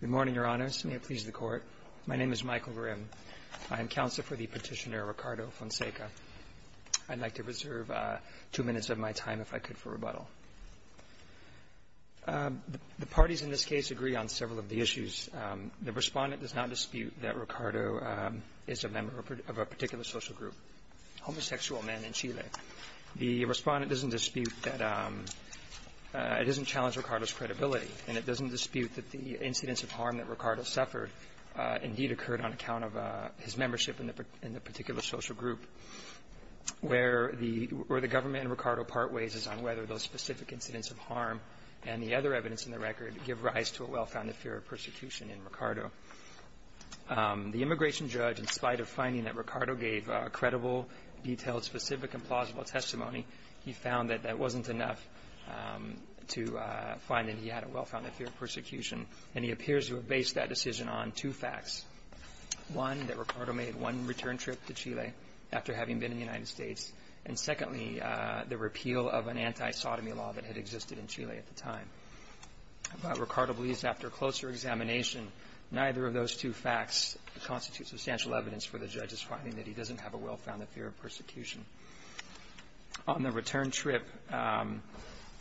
Good morning, Your Honors. May it please the Court. My name is Michael Grimm. I am counsel for the petitioner, Ricardo Fonseca. I'd like to reserve two minutes of my time, if I could, for rebuttal. The parties in this case agree on several of the issues. The respondent does not dispute that Ricardo is a member of a particular social group, homosexual men in Chile. The respondent doesn't dispute that it doesn't challenge Ricardo's credibility, and it doesn't dispute that the incidents of harm that Ricardo suffered indeed occurred on account of his membership in the particular social group, where the government in Ricardo part ways as on whether those specific incidents of harm and the other evidence in the record give rise to a well-founded fear of persecution in Ricardo. The immigration judge, in spite of finding that Ricardo gave a credible, detailed, specific and plausible testimony, he found that that wasn't enough to find that he had a well-founded fear of persecution, and he appears to have based that decision on two facts. One, that Ricardo made one return trip to Chile after having been in the United States, and secondly, the repeal of an anti-sodomy law that had existed in Chile at the time. But Ricardo believes after closer examination, neither of those two facts constitute substantial evidence for the judge's finding that he doesn't have a well-founded fear of persecution. On the return trip,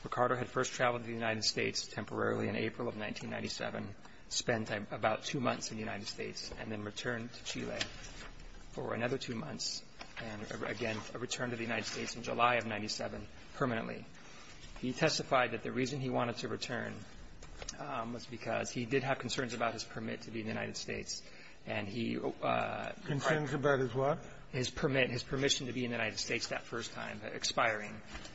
Ricardo had first traveled to the United States temporarily in April of 1997, spent about two months in the United States, and then returned to Chile for another two months, and again, returned to the United States in July of 1997 permanently. He testified that the reason he wanted to return was because he did have concerns about his permit to be in the United States, and he quite rightly did. Kennedy. Concerns about his what? Bursch. His permit, his permission to be in the United States that first time expiring.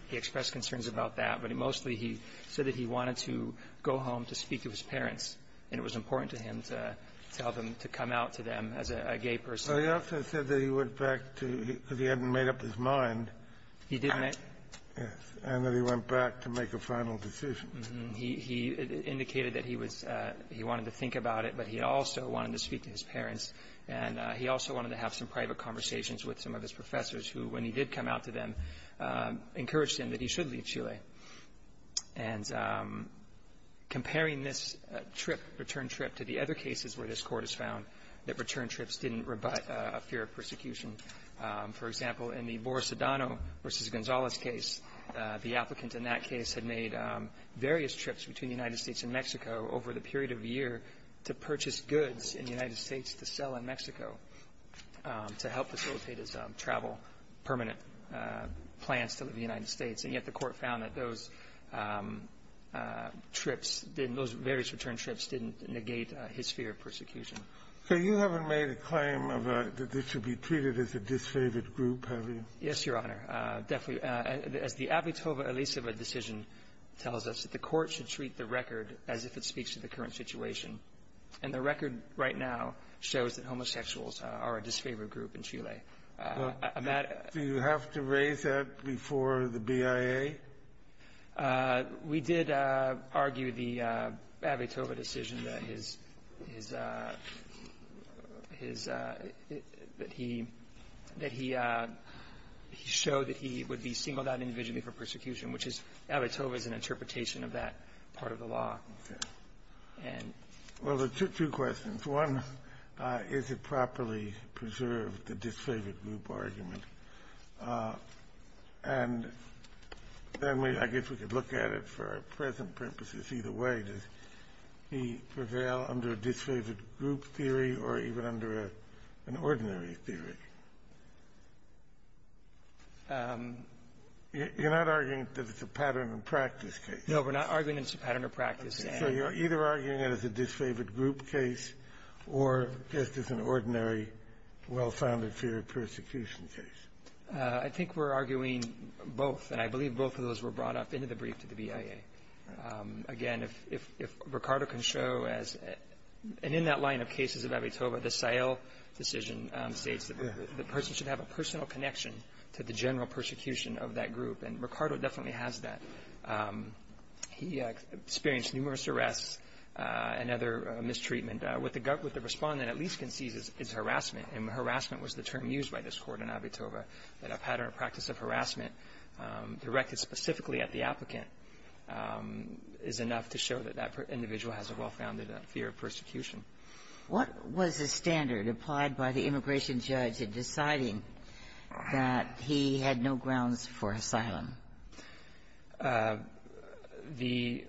He expressed concerns about that, but mostly he said that he wanted to go home to speak to his parents, and it was important to him to tell them, to come out to them as a gay person. Kennedy. Well, he also said that he went back to the end and made up his mind. Bursch. He did make up his mind. Kennedy. Yes. And that he went back to make a final decision. Bursch. He indicated that he was he wanted to think about it, but he also wanted to speak to his parents, and he also wanted to have some private conversations with some of his professors who, when he did come out to them, encouraged him that he should leave Chile. And comparing this trip, return trip, to the other cases where this Court has found that return trips didn't rebut a fear of persecution. For example, in the Boris Adano v. Gonzalez case, the applicant in that case had made various trips between the United States and Mexico over the period of a year to purchase goods in the United States to sell in Mexico to help facilitate his travel, permanent plans to leave the United States. And yet the Court found that those trips, those various return trips didn't negate his fear of persecution. So you haven't made a claim of a --"that this should be treated as a disfavored group," have you? Bursch. Yes, Your Honor. Definitely. As the Abitoba-Eliseva decision tells us, the Court should treat the record as if it speaks to the current situation. And the record right now shows that homosexuals are a disfavored group in Chile. Do you have to raise that before the BIA? We did argue the Abitoba decision that his his his that he that he was a disfavored group, and he showed that he would be singled out individually for persecution, which is Abitoba's interpretation of that part of the law. Well, two questions. One, is it properly preserved, the disfavored group argument? And then we – I guess we could look at it for our present purposes either way. Does he prevail under a disfavored group theory or even under an ordinary theory? You're not arguing that it's a pattern and practice case. No, we're not arguing that it's a pattern of practice. So you're either arguing it as a disfavored group case or just as an ordinary, well-founded theory of persecution case. I think we're arguing both. And I believe both of those were brought up in the brief to the BIA. Again, if Ricardo can show as – and in that line of cases of Abitoba, the Seyel decision states that the person should have a personal connection to the general persecution of that group, and Ricardo definitely has that. He experienced numerous arrests and other mistreatment. What the – what the Respondent at least can see is harassment, and harassment was the term used by this Court in Abitoba, that a pattern of practice of harassment directed specifically at the applicant is enough to show that that individual has a well-founded fear of persecution. What was the standard applied by the immigration judge in deciding that he had no grounds for asylum? The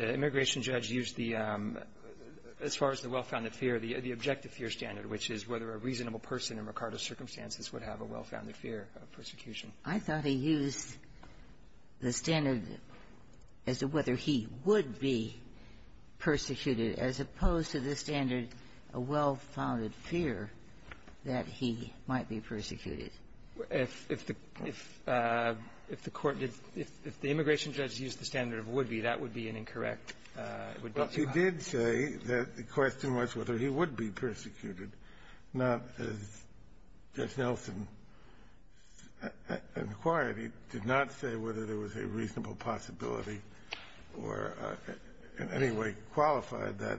immigration judge used the – as far as the well-founded fear, the objective fear standard, which is whether a reasonable person in Ricardo's circumstances would have a well-founded fear of persecution. I thought he used the standard as to whether he would be persecuted, as opposed to the standard, a well-founded fear that he might be persecuted. If the – if the court did – if the immigration judge used the standard of would be, that would be an incorrect – would be too high. Well, he did say that the question was whether he would be persecuted, not as Judge Nelson inquired. He did not say whether there was a reasonable possibility or in any way qualified that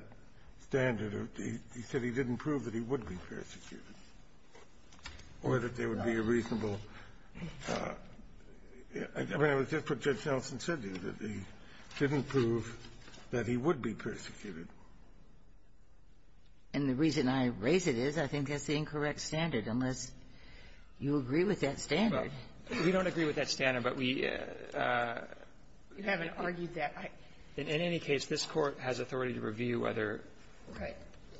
standard. He said he didn't prove that he would be persecuted or that there would be a reasonable – I mean, it was just what Judge Nelson said to you, that he didn't prove that he would be persecuted. And the reason I raise it is I think that's the incorrect standard, unless you agree with that standard. We don't agree with that standard, but we – You haven't argued that. In any case, this Court has authority to review whether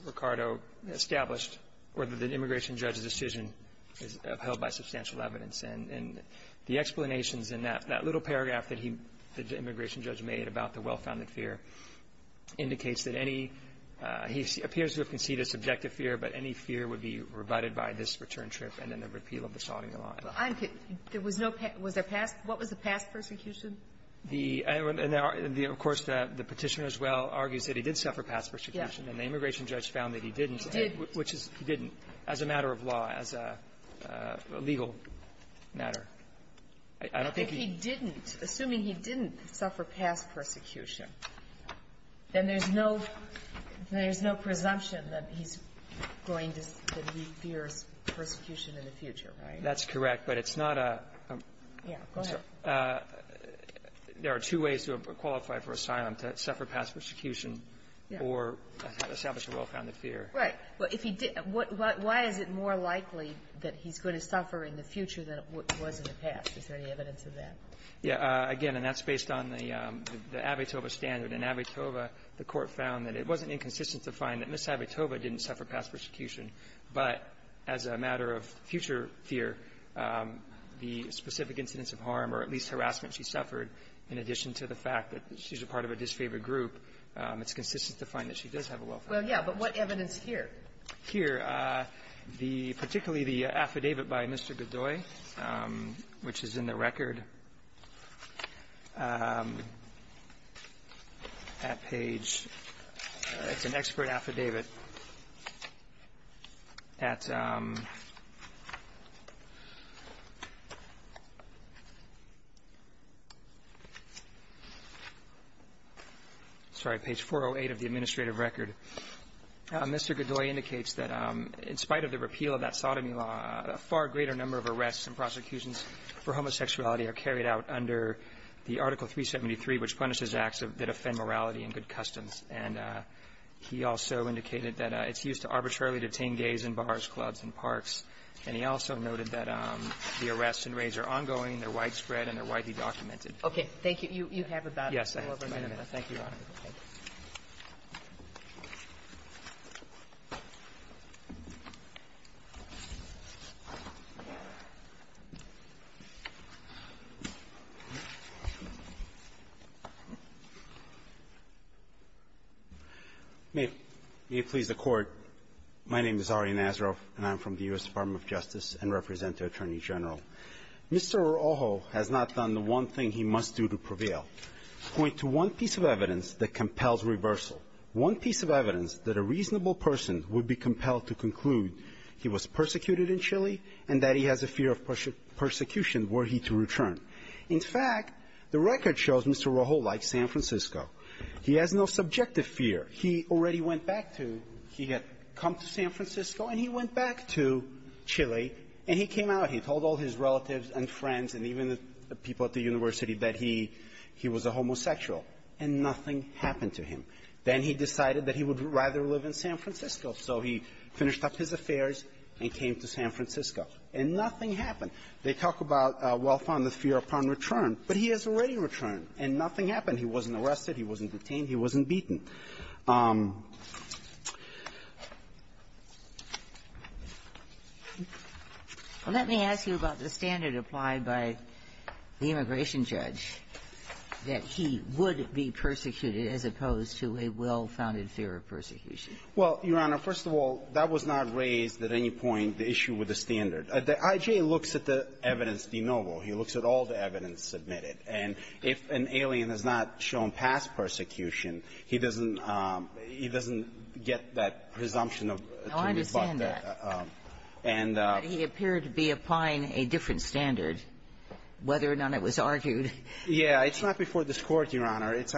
Ricardo established whether the immigration judge's decision is upheld by substantial evidence. Well, I'm – there was no – was there past – what was the past persecution? The – and there are – of course, the Petitioner as well argues that he did suffer past persecution. Yes. And the immigration judge found that he didn't. He did. Which is – he didn't, as a matter of law, as a legal matter. I don't think he – He didn't suffer past persecution. And there's no – there's no presumption that he's going to – that he fears persecution in the future, right? That's correct. But it's not a – I'm sorry. Yeah. Go ahead. There are two ways to qualify for asylum, to suffer past persecution or establish a well-founded fear. Right. Well, if he – why is it more likely that he's going to suffer in the future than it was in the past? Is there any evidence of that? Yeah. Again, and that's based on the Abitoba standard. In Abitoba, the Court found that it wasn't inconsistent to find that Ms. Abitoba didn't suffer past persecution, but as a matter of future fear, the specific incidents of harm or at least harassment she suffered, in addition to the fact that she's a part of a disfavored group, it's consistent to find that she does have a well-founded fear. Well, yeah. But what evidence here? Here, the – particularly the affidavit by Mr. Godoy, which is in the record, at page – it's an expert affidavit at – sorry, page 408 of the administrative record. Mr. Godoy indicates that in spite of the repeal of that sodomy law, a far greater number of arrests and prosecutions for homosexuality are carried out under the Article 373, which punishes acts that offend morality and good customs. And he also indicated that it's used to arbitrarily detain gays in bars, clubs, and parks. And he also noted that the arrests and raids are ongoing, they're widespread, and they're widely documented. Okay. Thank you. You have about a little over a minute. Yes. Thank you, Your Honor. May it please the Court. My name is Ari Nazaroff, and I'm from the U.S. Department of Justice and represent the Attorney General. Mr. Orojo has not done the one thing he must do to prevail. I want to point to one piece of evidence that compels reversal, one piece of evidence that a reasonable person would be compelled to conclude he was persecuted in Chile and that he has a fear of persecution were he to return. In fact, the record shows Mr. Orojo likes San Francisco. He has no subjective fear. He already went back to – he had come to San Francisco, and he went back to Chile, and he came out, he told all his relatives and friends and even the people at the university that he was a homosexual, and nothing happened to him. Then he decided that he would rather live in San Francisco, so he finished up his affairs and came to San Francisco, and nothing happened. They talk about a well-founded fear upon return, but he has already returned, and nothing happened. He wasn't arrested. He wasn't detained. He wasn't beaten. Well, let me ask you about the standard applied by the immigration judge that he would be persecuted as opposed to a well-founded fear of persecution. Well, Your Honor, first of all, that was not raised at any point, the issue with the standard. The I.J. looks at the evidence de novo. He looks at all the evidence submitted. And if an alien is not shown past persecution, he doesn't – he doesn't get that presumption of – to rebut that. No, I understand that. And the – But he appeared to be applying a different standard, whether or not it was argued. Yeah. It's not before this Court, Your Honor. It's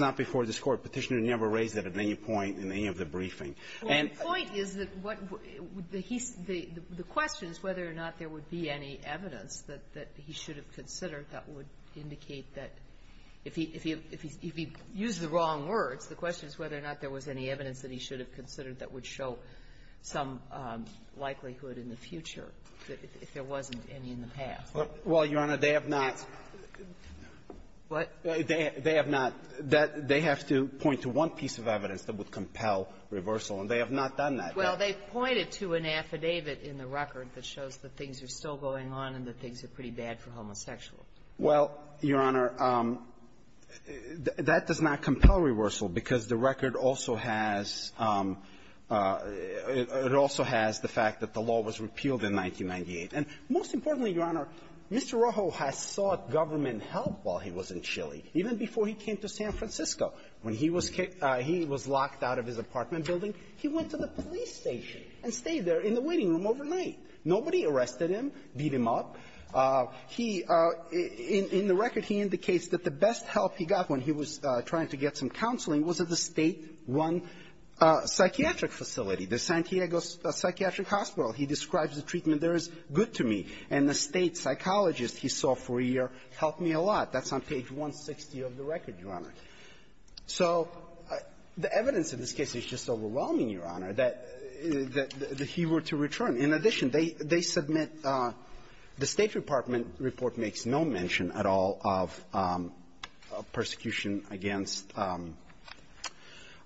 not before this Court. Petitioner never raised it at any point in any of the briefing. And – Well, the point is that what – the question is whether or not there would be any evidence that he should have considered that would indicate that if he – if he used the wrong words, the question is whether or not there was any evidence that he should have considered that would show some likelihood in the future, if there wasn't any in the past. Well, Your Honor, they have not – What? They have not – they have to point to one piece of evidence that would compel reversal, and they have not done that. Well, they've pointed to an affidavit in the record that shows that things are still going on and that things are pretty bad for homosexuals. Well, Your Honor, that does not compel reversal because the record also has – it also has the fact that the law was repealed in 1998. And most importantly, Your Honor, Mr. Rojo has sought government help while he was in Chile, even before he came to San Francisco. When he was – he was locked out of his apartment building, he went to the police station and stayed there in the waiting room overnight. Nobody arrested him, beat him up. He – in the record, he indicates that the best help he got when he was trying to get some counseling was at the State One Psychiatric Facility, the San Diego Psychiatric Hospital. He describes the treatment there as good to me. And the State psychologist he saw for a year helped me a lot. That's on page 160 of the record, Your Honor. So the evidence in this case is just overwhelming, Your Honor, that he were to return. In addition, they – they submit – the State Department report makes no mention at all of persecution against –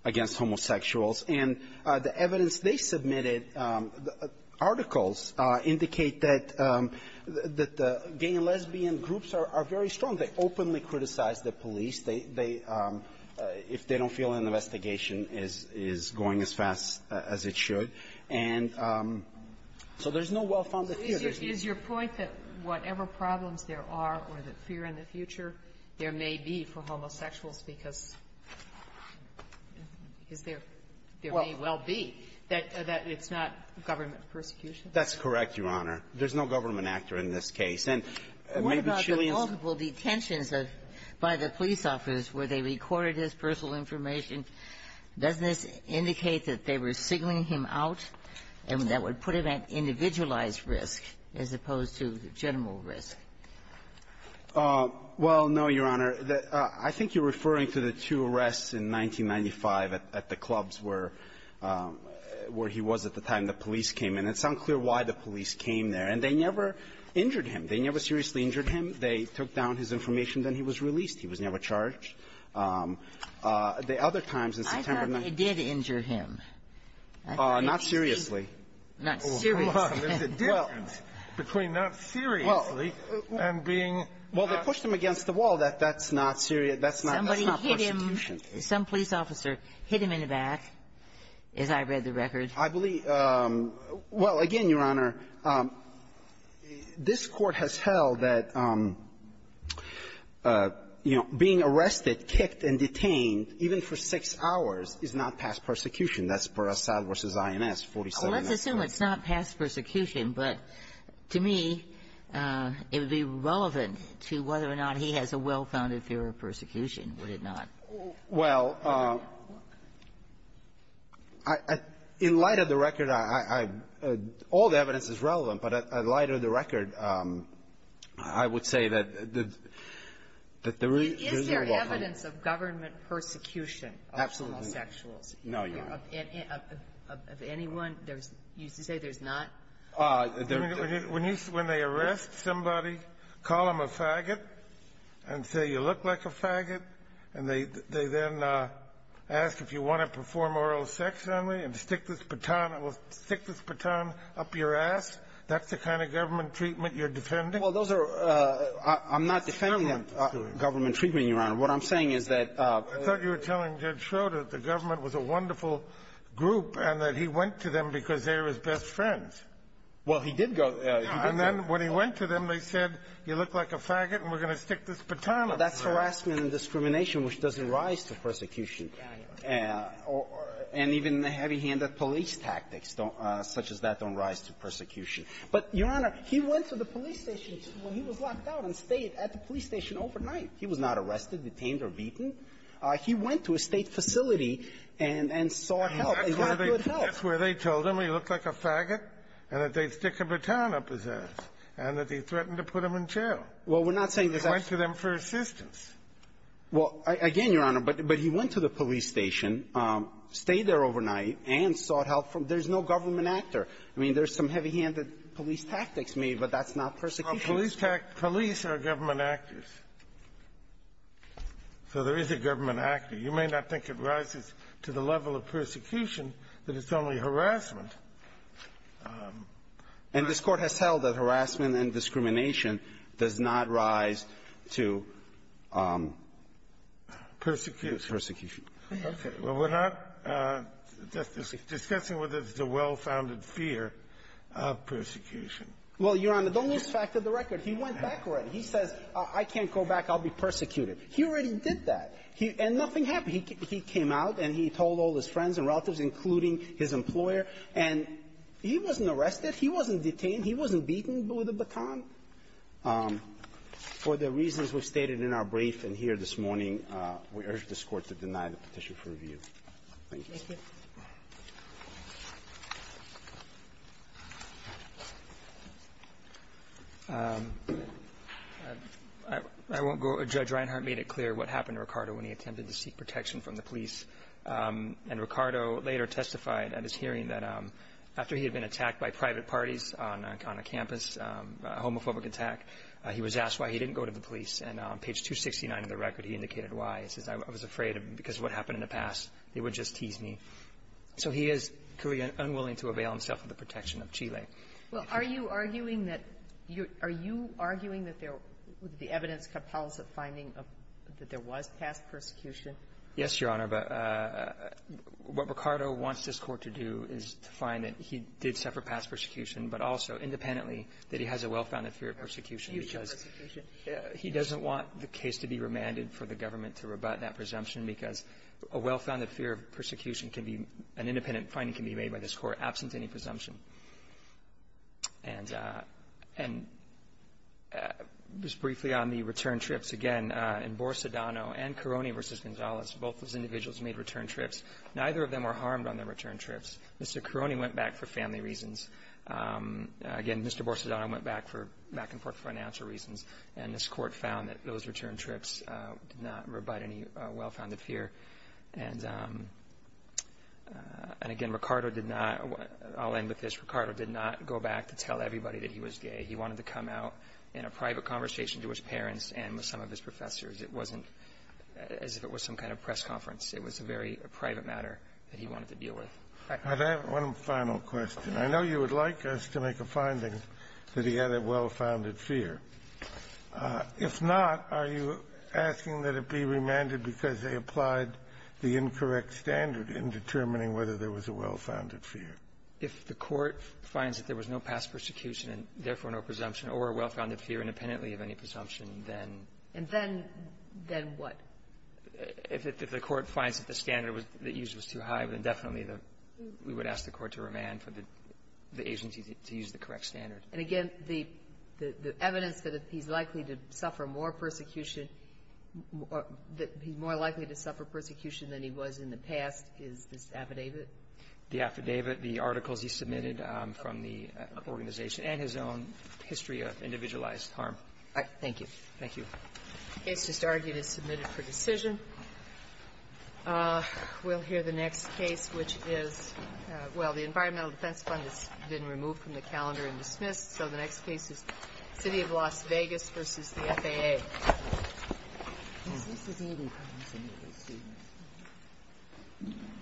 against homosexuals. And the evidence they submitted, articles, indicate that – that the gay and lesbian groups are very strong. They openly criticize the police. They – if they don't feel an investigation is going as fast as it should. And so there's no well-founded fear. Sotomayor, is your point that whatever problems there are or that fear in the future, there may be for homosexuals because – because there – there may well be, that it's not government persecution? That's correct, Your Honor. There's no government actor in this case. And maybe Chileans ---- What about the multiple detentions of – by the police office where they recorded his personal information? Doesn't this indicate that they were signaling him out and that would put him at individualized risk as opposed to general risk? Well, no, Your Honor. I think you're referring to the two arrests in 1995 at the clubs where – where he was at the time the police came in. It's unclear why the police came there. And they never injured him. They never seriously injured him. They took down his information, then he was released. He was never charged. The other times in September ---- I thought they did injure him. Not seriously. Not seriously. Well, there's a difference between not seriously and being not ---- Well, they pushed him against the wall. That's not serious. That's not persecution. Somebody hit him. Some police officer hit him in the back, as I read the record. I believe – well, again, Your Honor, this Court has held that, you know, being arrested, kicked, and detained, even for six hours, is not past persecution. That's per Assad v. INS, 47-S. Well, let's assume it's not past persecution. But to me, it would be relevant to whether or not he has a well-founded fear of persecution. Would it not? Well, in light of the record, I – all the evidence is relevant. But in light of the record, I would say that the – that the real ---- Is there evidence of government persecution of all sexuals? No, Your Honor. Of anyone? There's – you say there's not? When you – when they arrest somebody, call them a faggot and say, you look like a faggot, and they then ask if you want to perform oral sex on me and stick this baton – well, stick this baton up your ass, that's the kind of government treatment you're defending? Well, those are – I'm not defending government treatment, Your Honor. What I'm saying is that – I thought you were telling Judge Schroeder that the government was a wonderful group and that he went to them because they're his best friends. Well, he did go – he did go. And then when he went to them, they said, you look like a faggot, and we're going to stick this baton up your ass. Well, that's harassment and discrimination, which doesn't rise to persecution. And even the heavy-handed police tactics don't – such as that don't rise to persecution. But, Your Honor, he went to the police station – well, he was locked out and stayed at the police station overnight. He was not arrested, detained, or beaten. He went to a State facility and – and sought help and got good help. That's where they told him he looked like a faggot and that they'd stick a baton up his ass and that he threatened to put him in jail. Well, we're not saying this actually – He went to them for assistance. Well, again, Your Honor, but he went to the police station, stayed there overnight, and sought help from – there's no government actor. I mean, there's some heavy-handed police tactics made, but that's not persecution. Well, police are government actors. So there is a government actor. You may not think it rises to the level of persecution, but it's only harassment. And this Court has held that harassment and discrimination does not rise to persecution. Well, we're not discussing whether there's a well-founded fear of persecution. Well, Your Honor, don't lose track of the record. He went back already. He says, I can't go back, I'll be persecuted. He already did that. And nothing happened. He came out and he told all his friends and relatives, including his employer, and he wasn't arrested, he wasn't detained, he wasn't beaten with a baton. For the reasons we've stated in our brief and here this morning, we urge this Court to deny the petition for review. Thank you. Thank you. I won't go – Judge Reinhart made it clear what happened to Ricardo when he attempted to seek protection from the police. And Ricardo later testified at his hearing that after he had been attacked by private parties on a campus, a homophobic attack, he was asked why he didn't go to the police. And on page 269 of the record, he indicated why. He says, I was afraid because of what happened in the past, they would just tease me. So he is unwilling to avail himself of the protection of Chile. Well, are you arguing that – are you arguing that the evidence compels a finding that there was past persecution? Yes, Your Honor. But what Ricardo wants this Court to do is to find that he did suffer past persecution, but also independently that he has a well-founded fear of persecution because he doesn't want the case to be remanded for the government to rebut that presumption because a well-founded fear of persecution can be – an independent finding can be made by this Court absent any presumption. And just briefly on the return trips, again, in Borsodano and Caroni v. Gonzalez, both of those individuals made return trips. Neither of them were harmed on their return trips. Mr. Caroni went back for family reasons. Again, Mr. Borsodano went back for back-and-forth financial reasons. And this Court found that those return trips did not rebut any well-founded fear. And, again, Ricardo did not – I'll end with this. Ricardo did not go back to tell everybody that he was gay. He wanted to come out in a private conversation to his parents and with some of his professors. It wasn't as if it was some kind of press conference. It was a very private matter that he wanted to deal with. I have one final question. I know you would like us to make a finding that he had a well-founded fear. If not, are you asking that it be remanded because they applied the incorrect standard in determining whether there was a well-founded fear? If the Court finds that there was no past persecution and, therefore, no presumption or a well-founded fear independently of any presumption, then – And then what? If the Court finds that the standard that used was too high, then definitely we would ask the Court to remand for the agency to use the correct standard. And, again, the evidence that he's likely to suffer more persecution – that he's more likely to suffer persecution than he was in the past is this affidavit? The affidavit, the articles he submitted from the organization, and his own history of individualized harm. Thank you. Thank you. The case just argued is submitted for decision. We'll hear the next case, which is – well, the Environmental Defense Fund has been removed from the calendar and dismissed. So the next case is City of Las Vegas v. the FAA. This is Eden County.